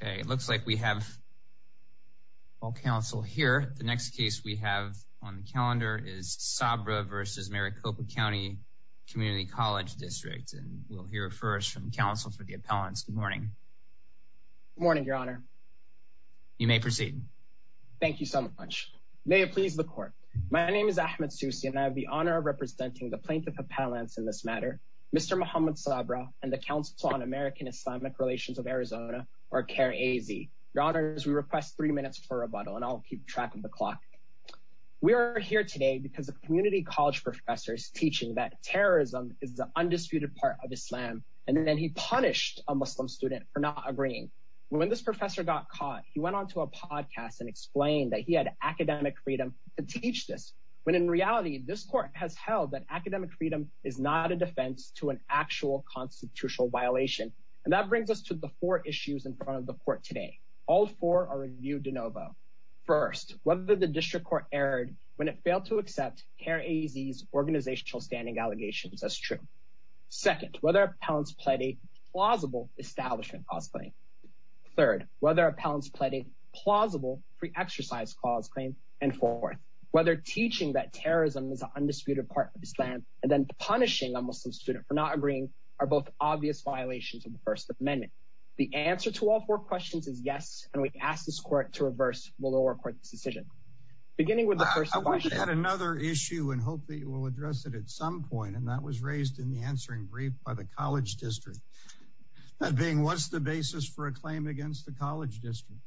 It looks like we have all counsel here. The next case we have on the calendar is Sabra v. Maricopa County Community College District and we'll hear first from counsel for the appellants. Good morning. Good morning, Your Honor. You may proceed. Thank you so much. May it please the Court. My name is Ahmed Sousi and I have the honor of representing the plaintiff appellants in this matter, Mr. Mohamed Sabra and the Council on American Islamic Relations of Arizona or CARE-AZ. Your Honors, we request three minutes for rebuttal and I'll keep track of the clock. We are here today because a community college professor is teaching that terrorism is an undisputed part of Islam and then he punished a Muslim student for not agreeing. When this professor got caught, he went on to a podcast and explained that he had academic freedom to teach this. When in reality, this Court has held that academic freedom is not a defense to an actual constitutional violation. And that brings us to the four issues in front of the Court today. All four are reviewed de novo. First, whether the District Court erred when it failed to accept CARE-AZ's organizational standing allegations as true. Second, whether appellants pled a plausible establishment cost claim. Third, whether appellants pled a plausible free exercise clause claim. And fourth, whether teaching that terrorism is an undisputed part of Islam and then punishing a Muslim student for not agreeing are both obvious violations of the First Amendment. The answer to all four questions is yes. And we ask this Court to reverse the lower court's decision. Beginning with the first question. I wish I had another issue and hope that you will address it at some point. And that was for a claim against the College District.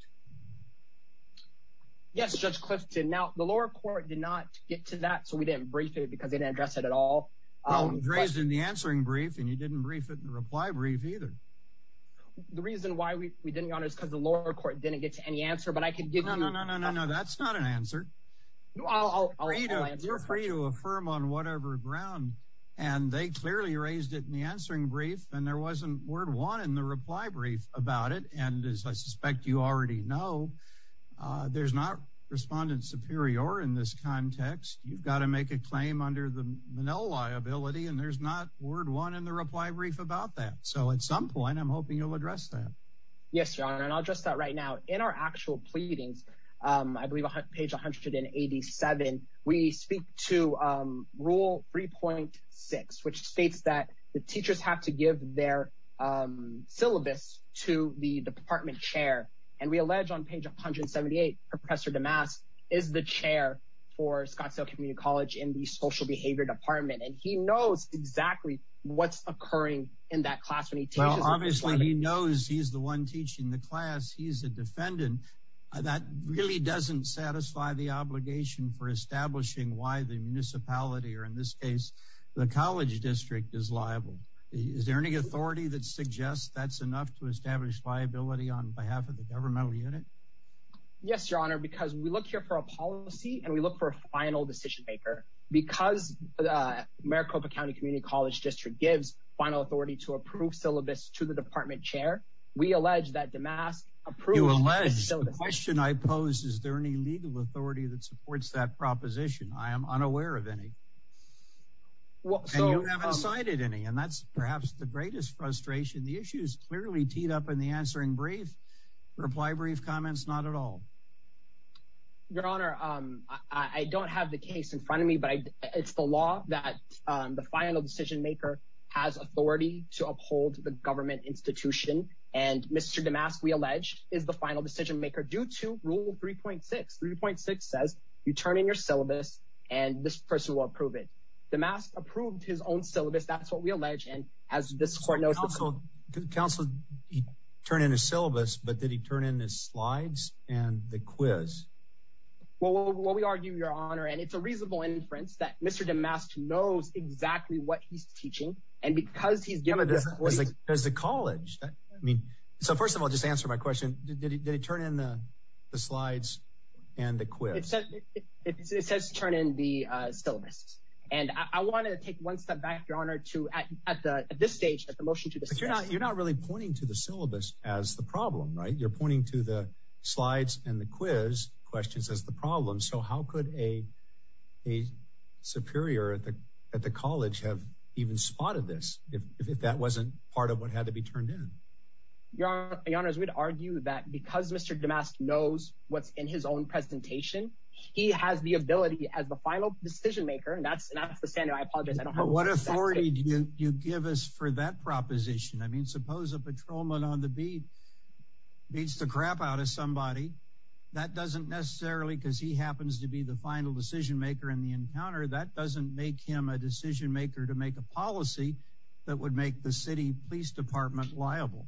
Yes, Judge Clifton. Now, the lower court did not get to that, so we didn't brief it because they didn't address it at all. Well, it was raised in the answering brief, and you didn't brief it in the reply brief either. The reason why we didn't, Your Honor, is because the lower court didn't get to any answer, but I could give you... No, no, no, no, no, no. That's not an answer. No, I'll... You're free to affirm on whatever ground. And they clearly raised it in the answering brief, and there wasn't word one in the reply brief about it. And as I suspect you already know, there's not Respondent Superior in this context. You've got to make a claim under the Manila liability, and there's not word one in the reply brief about that. So at some point, I'm hoping you'll address that. Yes, Your Honor. And I'll address that right now. In our actual pleadings, I believe page 187, we speak to Rule 3.6, which states that the teachers have to give their syllabus to the department chair. And we allege on page 178, Professor DeMas is the chair for Scottsdale Community College in the Social Behavior Department. And he knows exactly what's occurring in that class when he teaches... Well, obviously, he knows he's the one teaching the class. He's a defendant. That really doesn't satisfy the obligation for establishing why the municipality, or in this case, the college district is liable. Is there any authority that suggests that's enough to establish liability on behalf of the governmental unit? Yes, Your Honor, because we look here for a policy, and we look for a final decision maker. Because Maricopa County Community College District gives final authority to approve syllabus to the department chair, we allege that DeMas approved the syllabus. The question I pose, is there any legal authority that supports that proposition? I am unaware of any. And you haven't cited any, and that's perhaps the greatest frustration. The issue is clearly teed up in the answering brief. Reply brief comments, not at all. Your Honor, I don't have the case in front of me, but it's the law that the final decision maker has authority to uphold the government institution. And Mr. DeMas, we allege, is the final decision maker due to Rule 3.6. 3.6 says, you turn in your syllabus, and this person will approve it. DeMas approved his own syllabus. That's what we allege, and as this court knows. Counsel, he turned in his syllabus, but did he turn in his slides and the quiz? Well, we argue, Your Honor, and it's a reasonable inference that Mr. DeMas knows exactly what he's teaching, and because he's given this... Does the college... I mean, so first of all, just to answer my question, did he turn in the slides and the quiz? It says turn in the syllabus, and I want to take one step back, Your Honor, to at this stage, at the motion to discuss... But you're not really pointing to the syllabus as the problem, right? You're pointing to the slides and the quiz questions as the problem. So how could a superior at the college have even spotted this, if that wasn't part of what had to be turned in? Your Honor, we'd argue that because Mr. DeMas knows what's in his own presentation, he has the ability as the final decision maker, and that's the standard. I apologize, I don't have... But what authority do you give us for that proposition? I mean, suppose a patrolman on the beat beats the crap out of somebody. That doesn't necessarily, because he happens to be the final decision maker in the encounter, that doesn't make him a decision maker to make a policy that would make the city police department liable.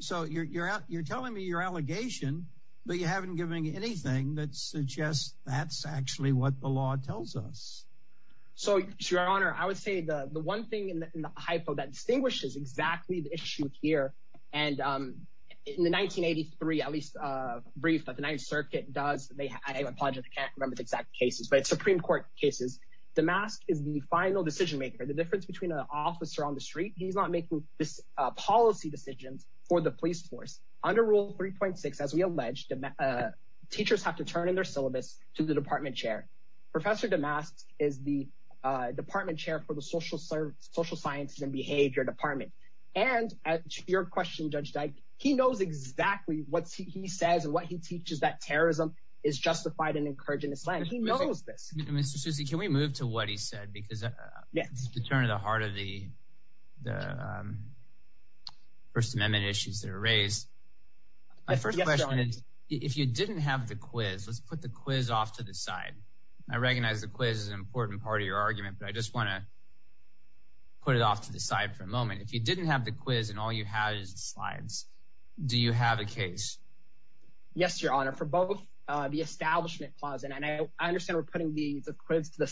So you're telling me your allegation, but you haven't given anything that suggests that's actually what the law tells us. So, Your Honor, I would say the one thing in the hypo that distinguishes exactly the issue here, and in the 1983, at least brief, but the Ninth Circuit does... I apologize, I can't remember the cases, but it's Supreme Court cases. DeMas is the final decision maker. The difference between an officer on the street, he's not making policy decisions for the police force. Under Rule 3.6, as we allege, teachers have to turn in their syllabus to the department chair. Professor DeMas is the department chair for the Social Sciences and Behavior Department. And to your question, Judge Dyke, he knows exactly what he says and what he teaches, that terrorism is justified and encouraged in this land. He knows this. Mr. Susi, can we move to what he said? Because it's the turn of the heart of the First Amendment issues that are raised. My first question is, if you didn't have the quiz, let's put the quiz off to the side. I recognize the quiz is an important part of your argument, but I just want to put it off to the side for a moment. If you didn't have the quiz and all you have is the slides, do you have a case? Yes, Your Honor. For both the Establishment Clause, and I understand we're putting the quiz to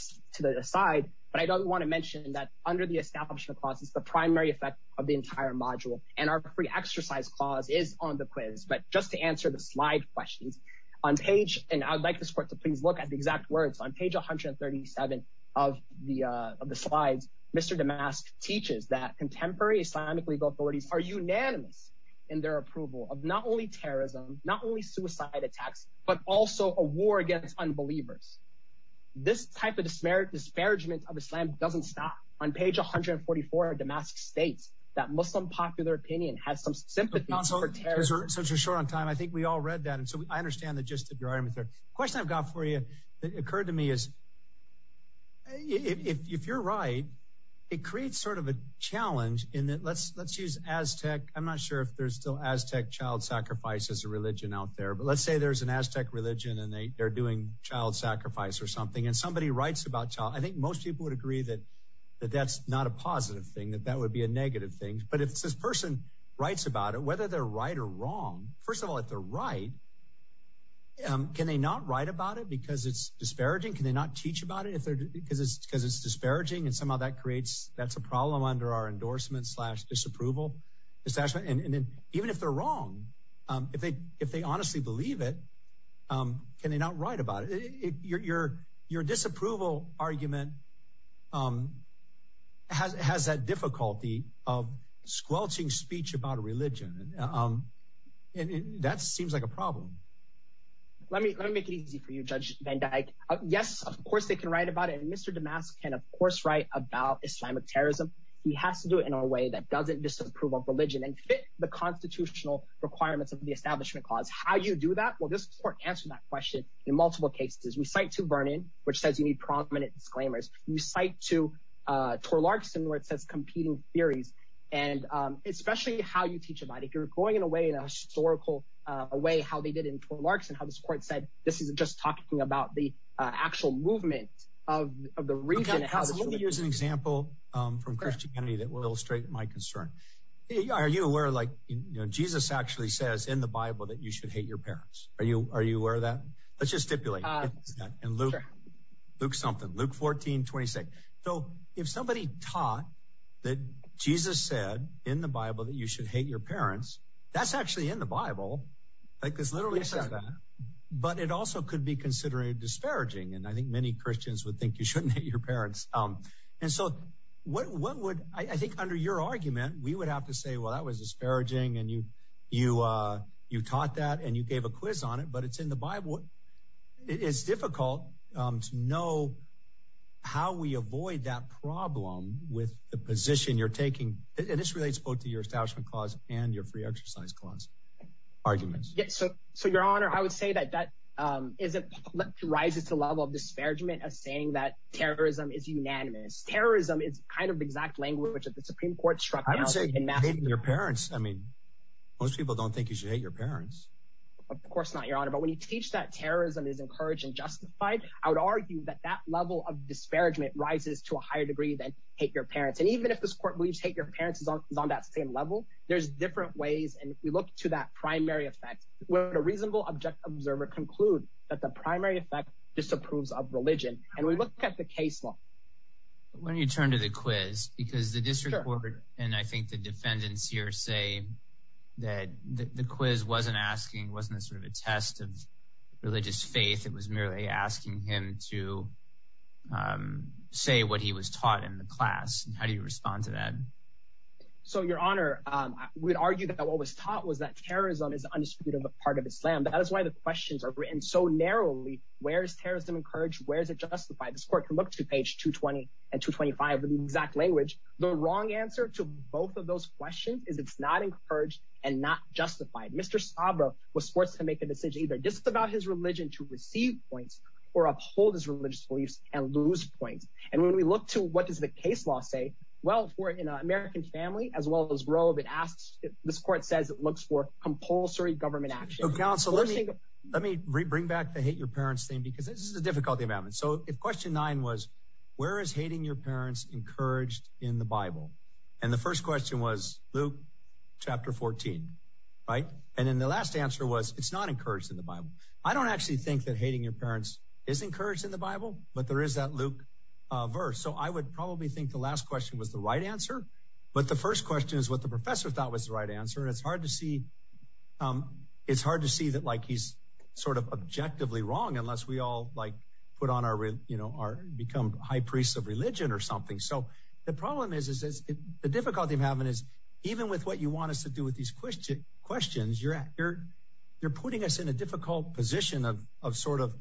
the side, but I don't want to mention that under the Establishment Clause, it's the primary effect of the entire module. And our free exercise clause is on the quiz. But just to answer the slide questions, on page, and I would like this court to please look at the exact words, on page 137 of the slides, Mr. DeMas teaches that contemporary Islamic legal authorities are unanimous in their approval of not only terrorism, not only suicide attacks, but also a war against unbelievers. This type of disparagement of Islam doesn't stop. On page 144, DeMas states that Muslim popular opinion has some sympathy for terrorism. Since you're short on time, I think we all read that. And so I understand the gist of your argument there. The question I've got for you is, if you're right, it creates sort of a challenge in that, let's use Aztec, I'm not sure if there's still Aztec child sacrifice as a religion out there, but let's say there's an Aztec religion and they're doing child sacrifice or something, and somebody writes about child, I think most people would agree that that's not a positive thing, that that would be a negative thing. But if this person writes about it, whether they're right or wrong, first of all, if they're right, can they not write about it because it's disparaging? Can they not teach about it because it's disparaging? And somehow that creates, that's a problem under our endorsement slash disapproval. And then even if they're wrong, if they honestly believe it, can they not write about it? Your disapproval argument has that difficulty of squelching speech about a religion. And that seems like a problem. Let me make it easy for you, Judge Van Dyke. Yes, of course, they can write about it. And Mr. Damask can, of course, write about Islamic terrorism. He has to do it in a way that doesn't disapprove of religion and fit the constitutional requirements of the Establishment Clause. How do you do that? Well, this court answered that question in multiple cases. We cite to Vernon, which says you need prominent disclaimers. We cite to Tor Larkson, where it says competing theories, and especially how you teach about it. You're going in a way, in a historical way, how they did in Tor Larkson, how this court said, this is just talking about the actual movement of the region. Let me use an example from Christianity that will illustrate my concern. Are you aware, like Jesus actually says in the Bible that you should hate your parents? Are you aware of that? Let's just stipulate. And Luke something, Luke 14, 26. So if somebody taught that Jesus said in the Bible that you should hate your parents, that's actually in the Bible. Like this literally says that. But it also could be considered disparaging. And I think many Christians would think you shouldn't hate your parents. And so what would I think under your argument, we would have to say, well, that was disparaging. And you taught that and you gave a quiz on it, but it's in the Bible. It's difficult to know how we avoid that problem with the position you're taking. And this relates both to your establishment clause and your free exercise clause arguments. So, so, Your Honor, I would say that that is it rises to level of disparagement as saying that terrorism is unanimous. Terrorism is kind of exact language that the Supreme Court struck out in your parents. I mean, most people don't think you should hate your parents. Of course not, Your Honor. But when you teach that terrorism is encouraged and justified, I would argue that that level of disparagement rises to a higher degree than hate your parents. And even if this court believes hate your parents is on that same level, there's different ways. And if we look to that primary effect, would a reasonable object observer conclude that the primary effect disapproves of religion? And we look at the case law. When you turn to the quiz, because the district court, and I think the defendants here say that the quiz wasn't asking, wasn't sort of a test of religious faith. It was merely asking him to say what he was taught in the class. And how do you respond to that? So, Your Honor, I would argue that what was taught was that terrorism is undisputed part of Islam. That is why the questions are written so narrowly. Where is terrorism encouraged? Where is it justified? This court can look to page 220 and 225 in the exact language. The wrong answer to both of those questions is it's not encouraged and not justified. Mr. Sabra was forced to make a decision either disavow his religion to receive points or uphold his religious beliefs and lose points. And when we look to what does the case law say? Well, for an American family, as well as Roe, this court says it looks for compulsory government action. So, counsel, let me bring back the hate your parents thing, because this is a difficulty about it. So if question nine was, where is hating your parents encouraged in the Bible? And then the last answer was it's not encouraged in the Bible. I don't actually think that hating your parents is encouraged in the Bible, but there is that Luke verse. So I would probably think the last question was the right answer. But the first question is what the professor thought was the right answer. It's hard to see. It's hard to see that like he's sort of objectively wrong unless we all like put on our, you know, our become high priests of religion or something. So the problem is, is the difficulty of having is even with what you want us to do with these questions, you're putting us in a difficult position of sort of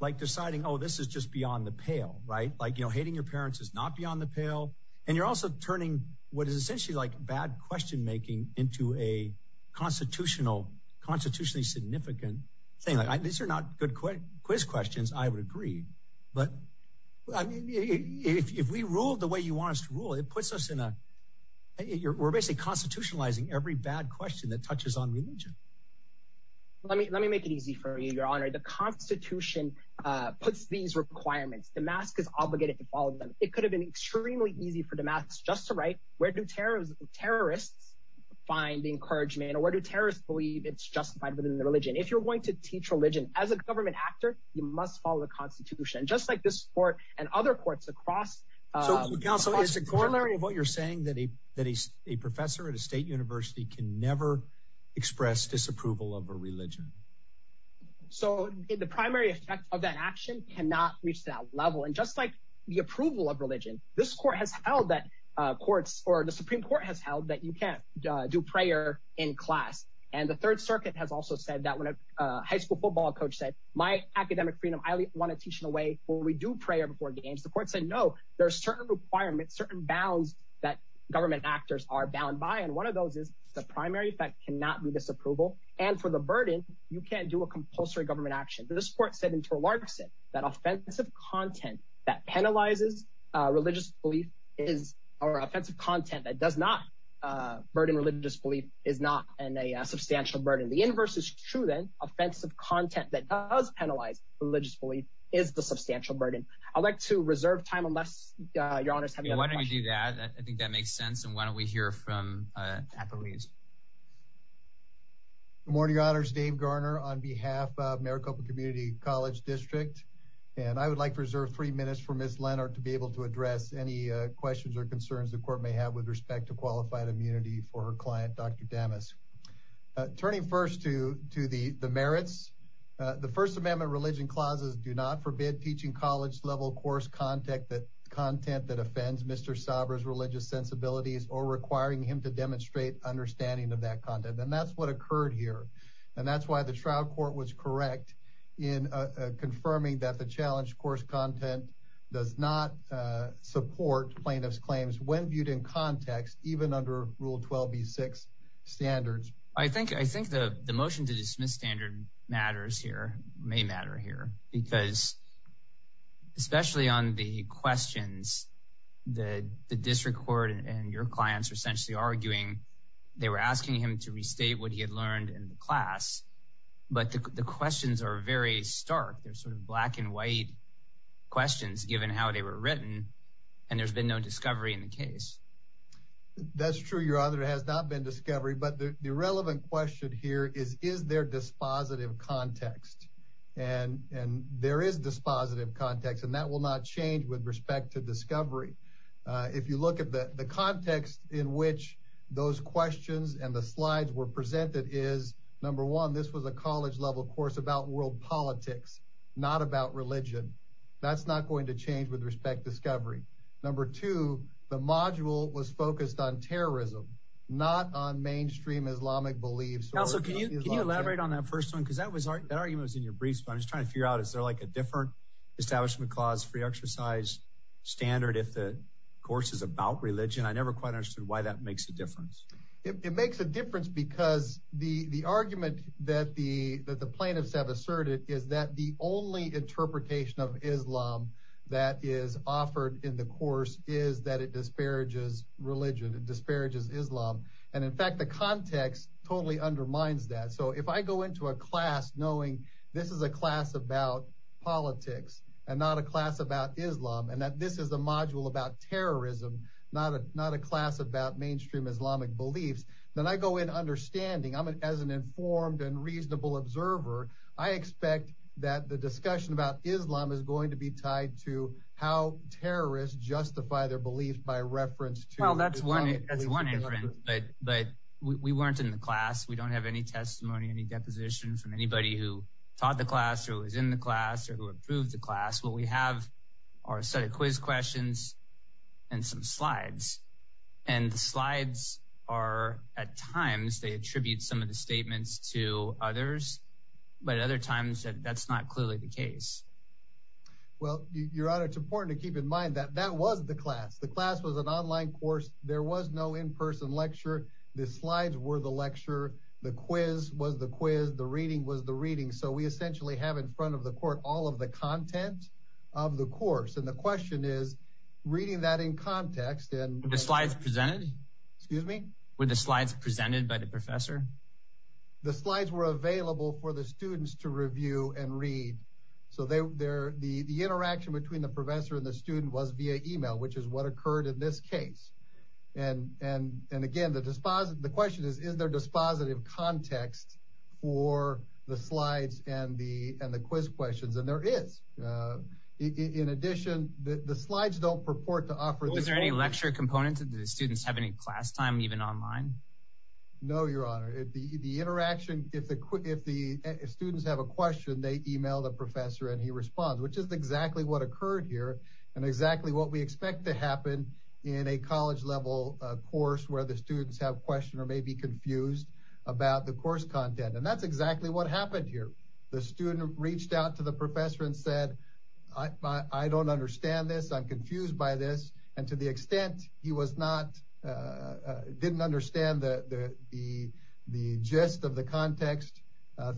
like deciding, oh, this is just beyond the pale, right? Like, you know, hating your parents is not beyond the pale. And you're also turning what is essentially like bad question making into a constitutional, constitutionally significant thing. These are not good quiz questions, I would agree. But if we ruled the way you want us to rule, it puts us in a, we're basically constitutionalizing every bad question that touches on religion. Let me, let me make it easy for you, your honor. The constitution puts these requirements. The mask is obligated to follow them. It could have been extremely easy for the masks just to write where do terrorists find the encouragement or where do terrorists believe it's justified within the religion. If you're going to teach religion as a government actor, you must follow the constitution, just like this court and other courts across. Counsel is the corner of what you're saying that he, that he's a professor at a state university can never express disapproval of a religion. So the primary effect of that action cannot reach that level. And just like the approval of religion, this court has held that courts or the Supreme court has held that you can't do prayer in class. And the third circuit has also said that when a high school football coach said my academic freedom, I want to teach in a way where we do prayer before games. The court said, no, there are certain requirements, certain bounds that government actors are bound by. And one of those is the primary effect cannot be disapproval. And for the burden, you can't do a compulsory government action. But this court said into a large set that offensive content that penalizes a religious belief is our offensive content that does not a burden. Religious belief is not a substantial burden. The inverse is true. Offensive content that does penalize religious belief is the substantial burden. I'd like to reserve time unless you're honest. Why don't you do that? I think that makes sense. And why don't we hear from, uh, at the least morning honors, Dave Garner on behalf of Maricopa community college district. And I would like to reserve three minutes for Ms. Leonard to be able to address any questions or concerns the court may have with respect to qualified immunity for her client, Dr. Damas. Uh, turning first to, to the, the merits, uh, the first amendment religion clauses do not forbid teaching college level course contact that content that offends Mr. Sabra's religious sensibilities or requiring him to demonstrate understanding of that content. And that's what occurred here. And that's why the trial court was correct in confirming that the challenge course content does not, uh, support plaintiff's claims when viewed in context, even under rule 12 B six standards. I think, I think the, the motion to dismiss standard matters here may matter here because especially on the questions, the district court and your clients are essentially arguing. They were asking him to restate what he had learned in the class, but the questions are very stark. They're sort of black and white questions given how they were written. And there's been no discovery in the case. That's true. Your other has not been discovery, but the relevant question here is, is there dispositive context and, and there is dispositive context and that will not change with respect to discovery. Uh, if you look at the context in which those questions and the slides were presented is number one, this was a college level course about world politics, not about religion. That's not going to change with respect to discovery. Number two, the module was focused on terrorism, not on mainstream Islamic beliefs. Can you elaborate on that first one? Cause that was our, that argument was in your briefs, but I'm just trying to figure out, is there like a different establishment clause free exercise standard? If the course is about religion, I never quite understood why that makes a difference. It makes a difference because the, the argument that the, that the plaintiffs have asserted is that the only interpretation of Islam that is offered in the course is that it disparages religion. It disparages Islam. And in fact, the context totally undermines that. So if I go into a class knowing this is a class about politics and not a class about Islam, and that this is a module about terrorism, not a, not a class about mainstream Islamic beliefs. Then I go in I'm an, as an informed and reasonable observer, I expect that the discussion about Islam is going to be tied to how terrorists justify their beliefs by reference to, well, that's one, that's one, but we weren't in the class. We don't have any testimony, any deposition from anybody who taught the class or was in the class or who approved the class. What we have are a set of quiz questions and some slides. And the slides are at times they attribute some of the statements to others, but other times that that's not clearly the case. Well, your honor, it's important to keep in mind that that was the class. The class was an online course. There was no in-person lecture. The slides were the lecture. The quiz was the quiz. The reading was the reading. So we essentially have in front of the court, all of the content of the course. And the question is reading that in context and the slides presented, excuse me, with the slides presented by the professor, the slides were available for the students to review and read. So they, they're the, the interaction between the professor and the student was via email, which is what occurred in this case. And, and, and again, the dispositive, the question is, is there dispositive context for the slides and the, and the quiz questions. And there is in addition, the slides don't purport to offer. Is there any lecture components of the students have any class time, even online? No, your honor. If the, the interaction, if the, if the students have a question, they email the professor and he responds, which is exactly what occurred here. And exactly what we expect to happen in a college level course where the students have question or may be confused about the course content. And that's exactly what happened here. The student reached out to the professor and said, I don't understand this. I'm confused by this. And to the extent he was not, didn't understand the, the, the, the gist of the context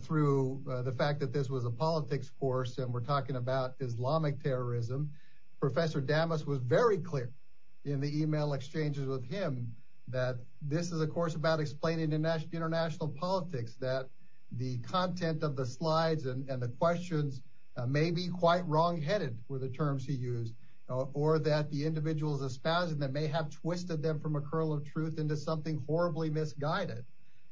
through the fact that this was a politics course, and we're talking about Islamic terrorism, professor Damas was very clear in the email exchanges with him that this is a course about explaining international politics, that the content of the slides and the questions may be quite wrong headed with the terms he used, or that the individuals espousing them may have twisted them from a curl of truth into something horribly misguided.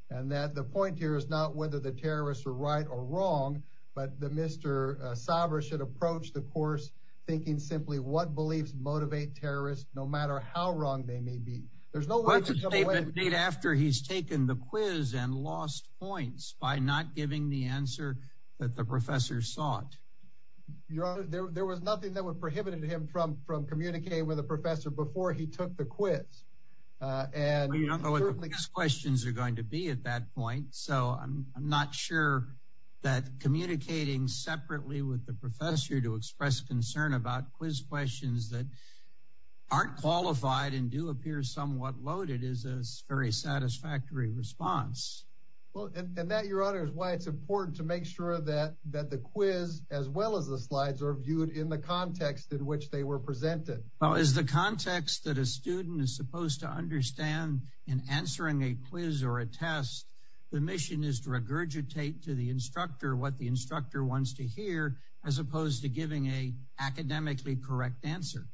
And that the point here is not whether the terrorists are right or wrong, but the Mr. Sabra should approach the course thinking simply what beliefs motivate terrorists, no matter how wrong they may be. There's no way to come away. What's the statement made after he's taken the quiz and lost points by not giving the answer that the professor sought? Your honor, there, there was nothing that would prohibit him from, from communicating with a professor before he took the quiz. And you don't know what the quiz questions are going to be at that point. So I'm, I'm not sure that communicating separately with the professor to express concern about quiz questions that aren't qualified and do appear somewhat loaded is a very satisfactory response. Well, and, and that, your honor, is why it's important to make sure that, that the quiz, as well as the slides, are viewed in the context in which they were presented. Well, is the context that a student is supposed to understand in answering a quiz or a test, the mission is to regurgitate to the instructor what the instructor wants to hear, as opposed to giving a academically correct answer?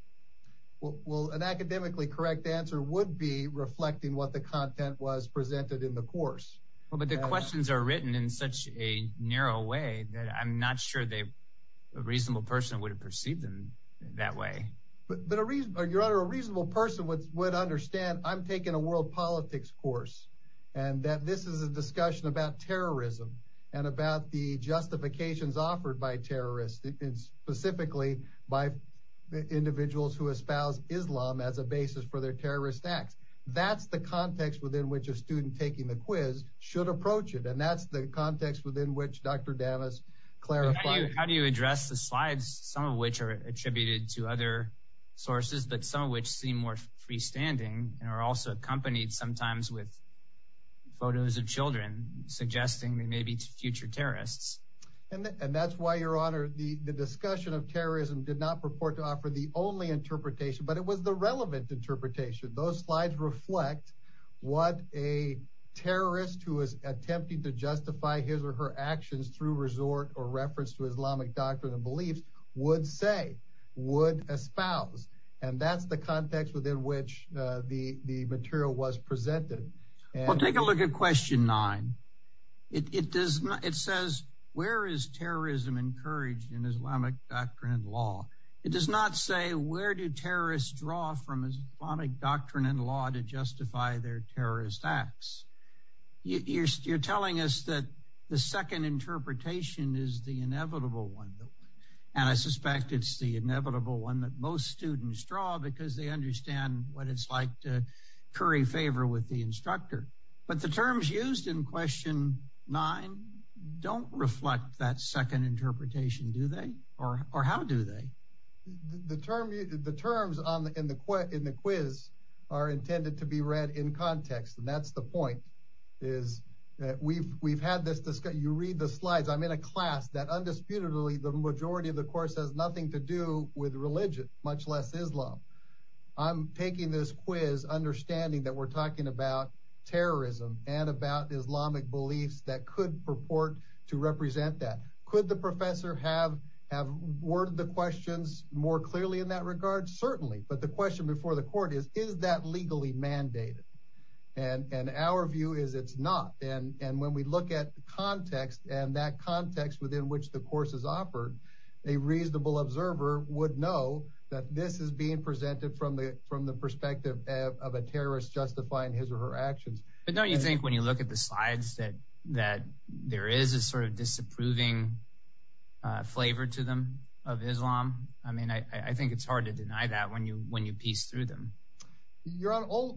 Well, an academically correct answer would be reflecting what the content was presented in the course. Well, but the questions are written in such a narrow way that I'm not sure they, a reasonable person would have perceived them that way. But a reason, your honor, a reasonable person would, would understand I'm taking a world politics course, and that this is a discussion about terrorism and about the justifications offered by terrorists, specifically by individuals who espouse Islam as a basis for their terrorist acts. That's the context within which a student taking the quiz should approach it. And that's the context within which Dr. Davis clarified. How do you address the slides, some of which are attributed to other sources, but some of which seem more freestanding and are also accompanied sometimes with photos of children suggesting they may be future terrorists. And that's why, your honor, the discussion of terrorism did not purport to offer the only interpretation, but it was the relevant interpretation. Those slides reflect what a terrorist who is attempting to justify his or her actions through resort or reference to Islamic doctrine and beliefs would say, would espouse. And that's the context within which the material was presented. Well, take a look at question nine. It says, where is terrorism encouraged in Islamic doctrine and law? It does not say where do terrorists draw from Islamic doctrine and law to justify their terrorist acts. You're telling us that the second interpretation is the inevitable one. And I suspect it's the inevitable one that most students draw because they understand what it's like to curry favor with the instructor. But the terms used in question nine don't reflect that second interpretation, do they? Or how do they? The terms in the quiz are intended to be read in context. And that's the point, is that we've had this discussion. You read the slides. I'm in a class that undisputedly the majority of the course has nothing to do with religion, much less Islam. I'm taking this quiz understanding that we're talking about terrorism and about Islamic beliefs that could purport to represent that. Could the professor have worded the questions more clearly in that regard? Certainly. But the question before the court is, is that legally mandated? And our view is it's not. And when we look at the context and that context within which the course is offered, a reasonable observer would know that this is being presented from the perspective of a terrorist justifying his or her actions. But don't you think when you look at the slides that there is a sort of disapproving flavor to them of Islam? I mean, I think it's hard to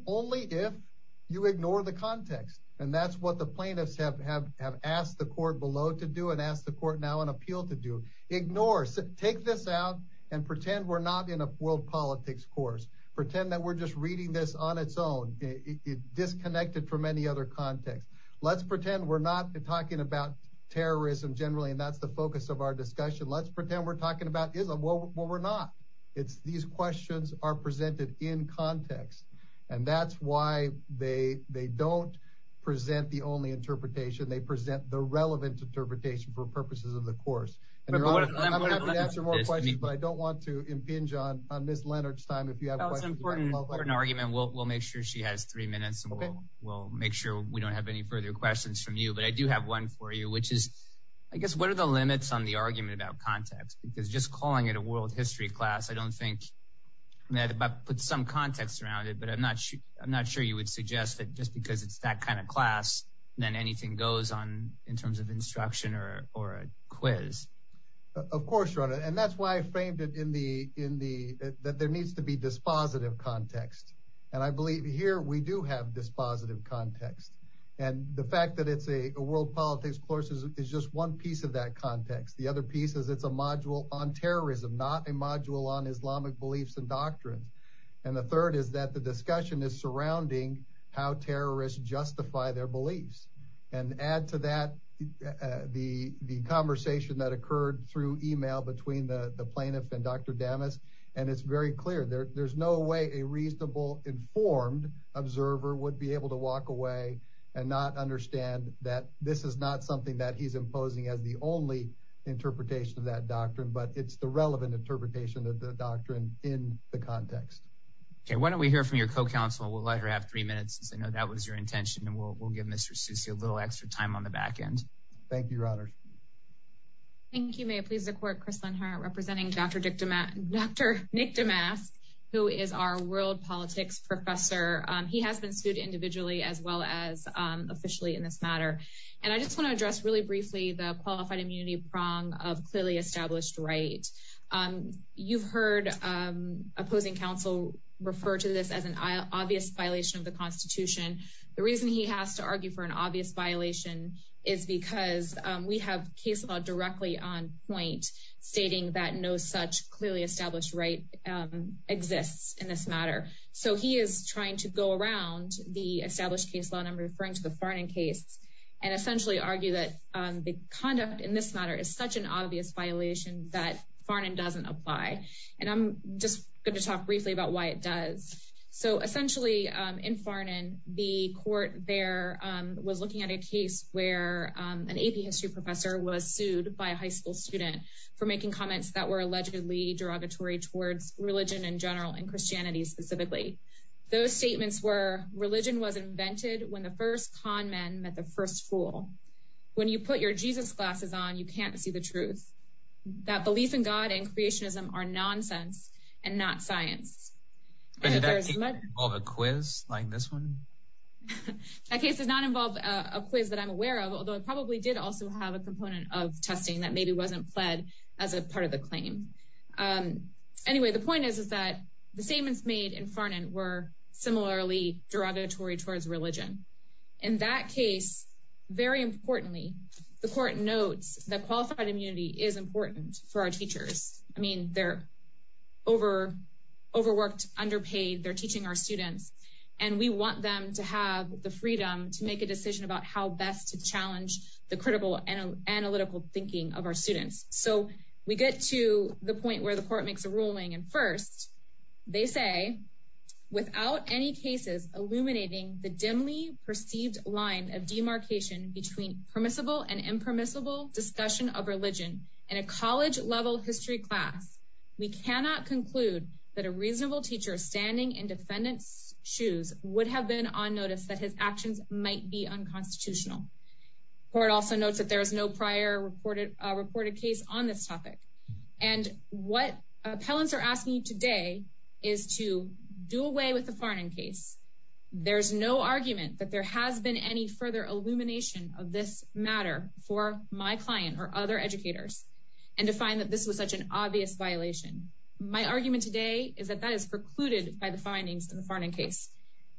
only if you ignore the context. And that's what the plaintiffs have asked the court below to do and ask the court now on appeal to do. Ignore. Take this out and pretend we're not in a world politics course. Pretend that we're just reading this on its own, disconnected from any other context. Let's pretend we're not talking about terrorism generally, and that's the focus of our discussion. Let's pretend we're talking about Islam. Well, we're not. These questions are why they don't present the only interpretation. They present the relevant interpretation for purposes of the course. And I'm going to have to answer more questions, but I don't want to impinge on Ms. Leonard's time. If you have an argument, we'll make sure she has three minutes and we'll make sure we don't have any further questions from you. But I do have one for you, which is, I guess, what are the limits on the argument about context? Because just calling it a world history class, I don't think that puts some context around it, but I'm not sure you would suggest that just because it's that kind of class, then anything goes in terms of instruction or a quiz. Of course, your honor. And that's why I framed it in the, that there needs to be dispositive context. And I believe here we do have dispositive context. And the fact that it's a world politics course is just one piece of that context. The other piece is it's a module on terrorism, not a module on Islamic beliefs and doctrines. And the third is that the discussion is surrounding how terrorists justify their beliefs and add to that the conversation that occurred through email between the plaintiff and Dr. Damas. And it's very clear there there's no way a reasonable informed observer would be able to walk away and not understand that this is not something that he's imposing as the only interpretation of that doctrine, but it's the relevant interpretation of the doctrine in the context. Okay, why don't we hear from your co counsel? We'll let her have three minutes. I know that was your intention. And we'll give Mr. Susi a little extra time on the back end. Thank you, your honor. Thank you, may it please the court, Chris Lenhart representing Dr. Nick Damas, who is our world politics professor. He has been individually as well as officially in this matter. And I just want to address really briefly the qualified immunity prong of clearly established right. You've heard opposing counsel refer to this as an obvious violation of the Constitution. The reason he has to argue for an obvious violation is because we have case law directly on point, stating that no such clearly established right exists in this matter. So he is trying to go around the established case law number referring to the Farnan case, and essentially argue that the conduct in this matter is such an obvious violation that Farnan doesn't apply. And I'm just going to talk briefly about why it does. So essentially, in Farnan, the court there was looking at a case where an AP history professor was sued by a high school student for making comments that were allegedly derogatory towards religion in general and Christianity specifically. Those statements were religion was invented when the first con men met the first fool. When you put your Jesus glasses on, you can't see the truth. That belief in God and creationism are nonsense, and not science. All the quiz like this one. That case does not involve a quiz that I'm aware of, although it probably did also have a component of testing that maybe wasn't pled as a part of the claim. Anyway, the point is, is that the statements made in Farnan were similarly derogatory towards religion. In that case, very importantly, the court notes that qualified immunity is important for our teachers. I mean, they're over overworked, underpaid, they're teaching our students, and we want them to have the freedom to make a decision about how best to challenge the critical and analytical thinking of our students. So we get to the point where the court makes a ruling. And first, they say, without any cases illuminating the dimly perceived line of demarcation between permissible and impermissible discussion of religion in a college level history class, we cannot conclude that a reasonable teacher standing in defendant's shoes would have been on notice that his actions might be unconstitutional. Court also notes that there is no prior reported reported case on this topic. And what appellants are asking today is to do away with the Farnan case. There's no argument that there has been any further illumination of this matter for my client or other educators. And to find that this was such an obvious violation. My argument today is that that is precluded by the findings in the Farnan case.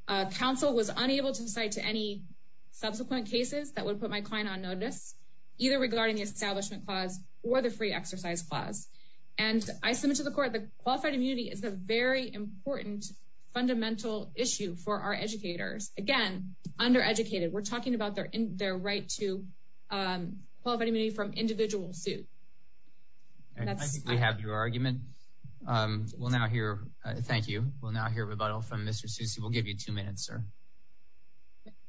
Council was unable to cite to any subsequent cases that would put my client on notice, either regarding the Establishment Clause, or the Free Exercise Clause. And I submit to the court that qualified immunity is a very important fundamental issue for our educators. Again, undereducated, we're talking about their in their right to qualified immunity from individual suit. I think we have your argument. We'll now hear. Thank you. We'll now hear rebuttal from Mr. Susi. We'll give you two minutes, sir.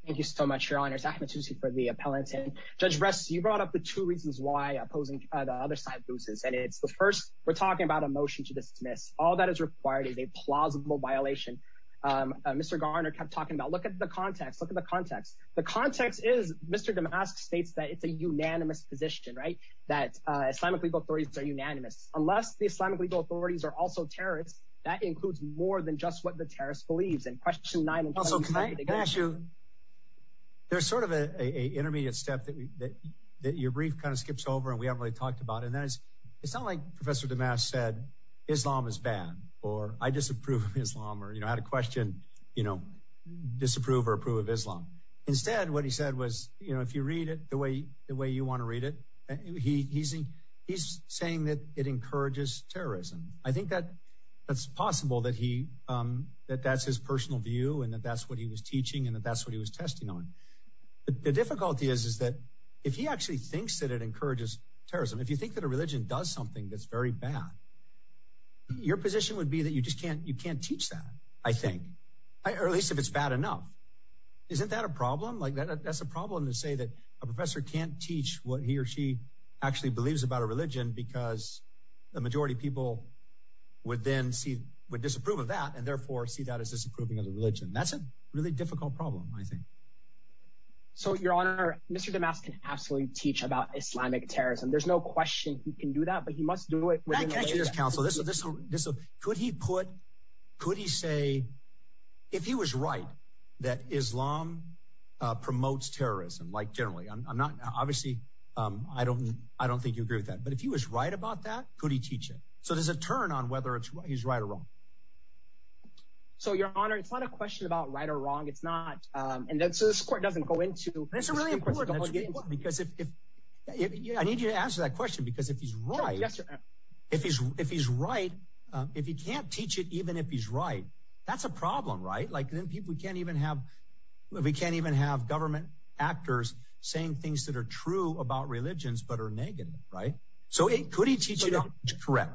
Thank you so much, Your Honor. It's Ahmed Susi for the appellant. Judge Ress, you brought up the two reasons why opposing the other side loses. And it's the first. We're talking about a motion to dismiss. All that is required is a plausible violation. Mr. Garner kept talking about look at the context. Look at the context. The context is states that it's a unanimous position, right? That Islamic legal authorities are unanimous. Unless the Islamic legal authorities are also terrorists, that includes more than just what the terrorist believes. And question nine. Also, can I ask you, there's sort of a intermediate step that your brief kind of skips over and we haven't really talked about. And that is, it's not like Professor Damask said, Islam is bad, or I disapprove of Islam, or you know, question, you know, disapprove or approve of Islam. Instead, what he said was, you know, if you read it the way the way you want to read it, he's he's saying that it encourages terrorism. I think that that's possible that he that that's his personal view and that that's what he was teaching and that that's what he was testing on. The difficulty is, is that if he actually thinks that it encourages terrorism, if you think that a religion does something that's very bad, your position would be that you just can't you can't teach that, I think, or at least if it's bad enough. Isn't that a problem? Like that? That's a problem to say that a professor can't teach what he or she actually believes about a religion because the majority of people would then see would disapprove of that and therefore see that as disapproving of the religion. That's a really difficult problem, I think. So Your Honor, Mr. Damask can absolutely teach about Islamic terrorism. There's no question he can do that, but he must do it with this. Could he put could he say if he was right that Islam promotes terrorism like generally? I'm not obviously I don't I don't think you agree with that. But if he was right about that, could he teach it? So there's a turn on whether he's right or wrong. So, Your Honor, it's not a question about right or wrong. It's not. And so this doesn't go into this really important because if I need you to answer that question, because if he's right, if he's if he's right, if he can't teach it, even if he's right, that's a problem, right? Like then people can't even have we can't even have government actors saying things that are true about religions, but are negative, right? So it could he teach you to correct?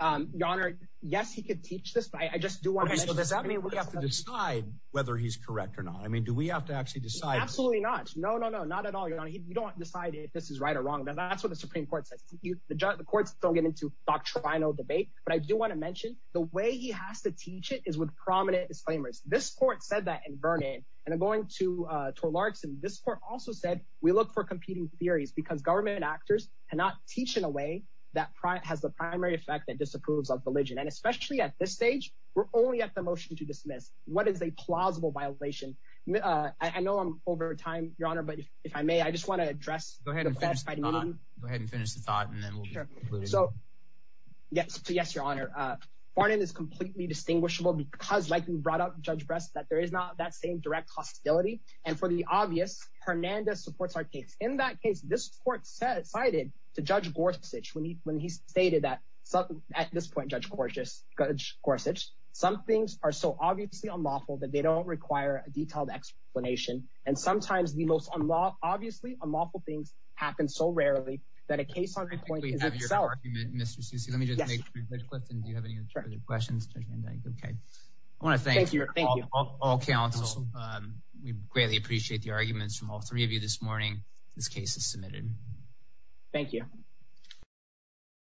Your Honor, yes, he could teach this. I just do want to know, does that mean we have to decide whether he's correct or not? I mean, do we have to actually decide? Absolutely not. No, no, no, not at all. You don't decide if this is right or wrong. Now, that's what the Supreme Court says. The courts don't get into doctrinal debate. But I do want to mention the way he has to teach it is with prominent disclaimers. This court said that in Vernon and I'm going to to Larkin. This court also said we look for competing theories because government actors cannot teach in a way that has the primary effect that disapproves of religion. And especially at this stage, we're only at the motion to dismiss. What is a plausible violation? I know I'm over time, Your Honor, but if I may, I just want to address. Go ahead and finish the thought and then we'll be sure. So yes, yes, Your Honor. Vernon is completely distinguishable because like you brought up, Judge Brest, that there is not that same direct hostility. And for the obvious, Hernandez supports our case. In that case, this court said cited to Judge Gorsuch when he when this point, Judge Gorsuch, some things are so obviously unlawful that they don't require a detailed explanation. And sometimes the most obviously unlawful things happen so rarely that a case on the point is itself. Mr. Sousa, let me just make a quick question. Do you have any questions? OK, I want to thank you. Thank you. All counsel. We greatly appreciate the arguments from all three of you this morning. This case is submitted. Thank you.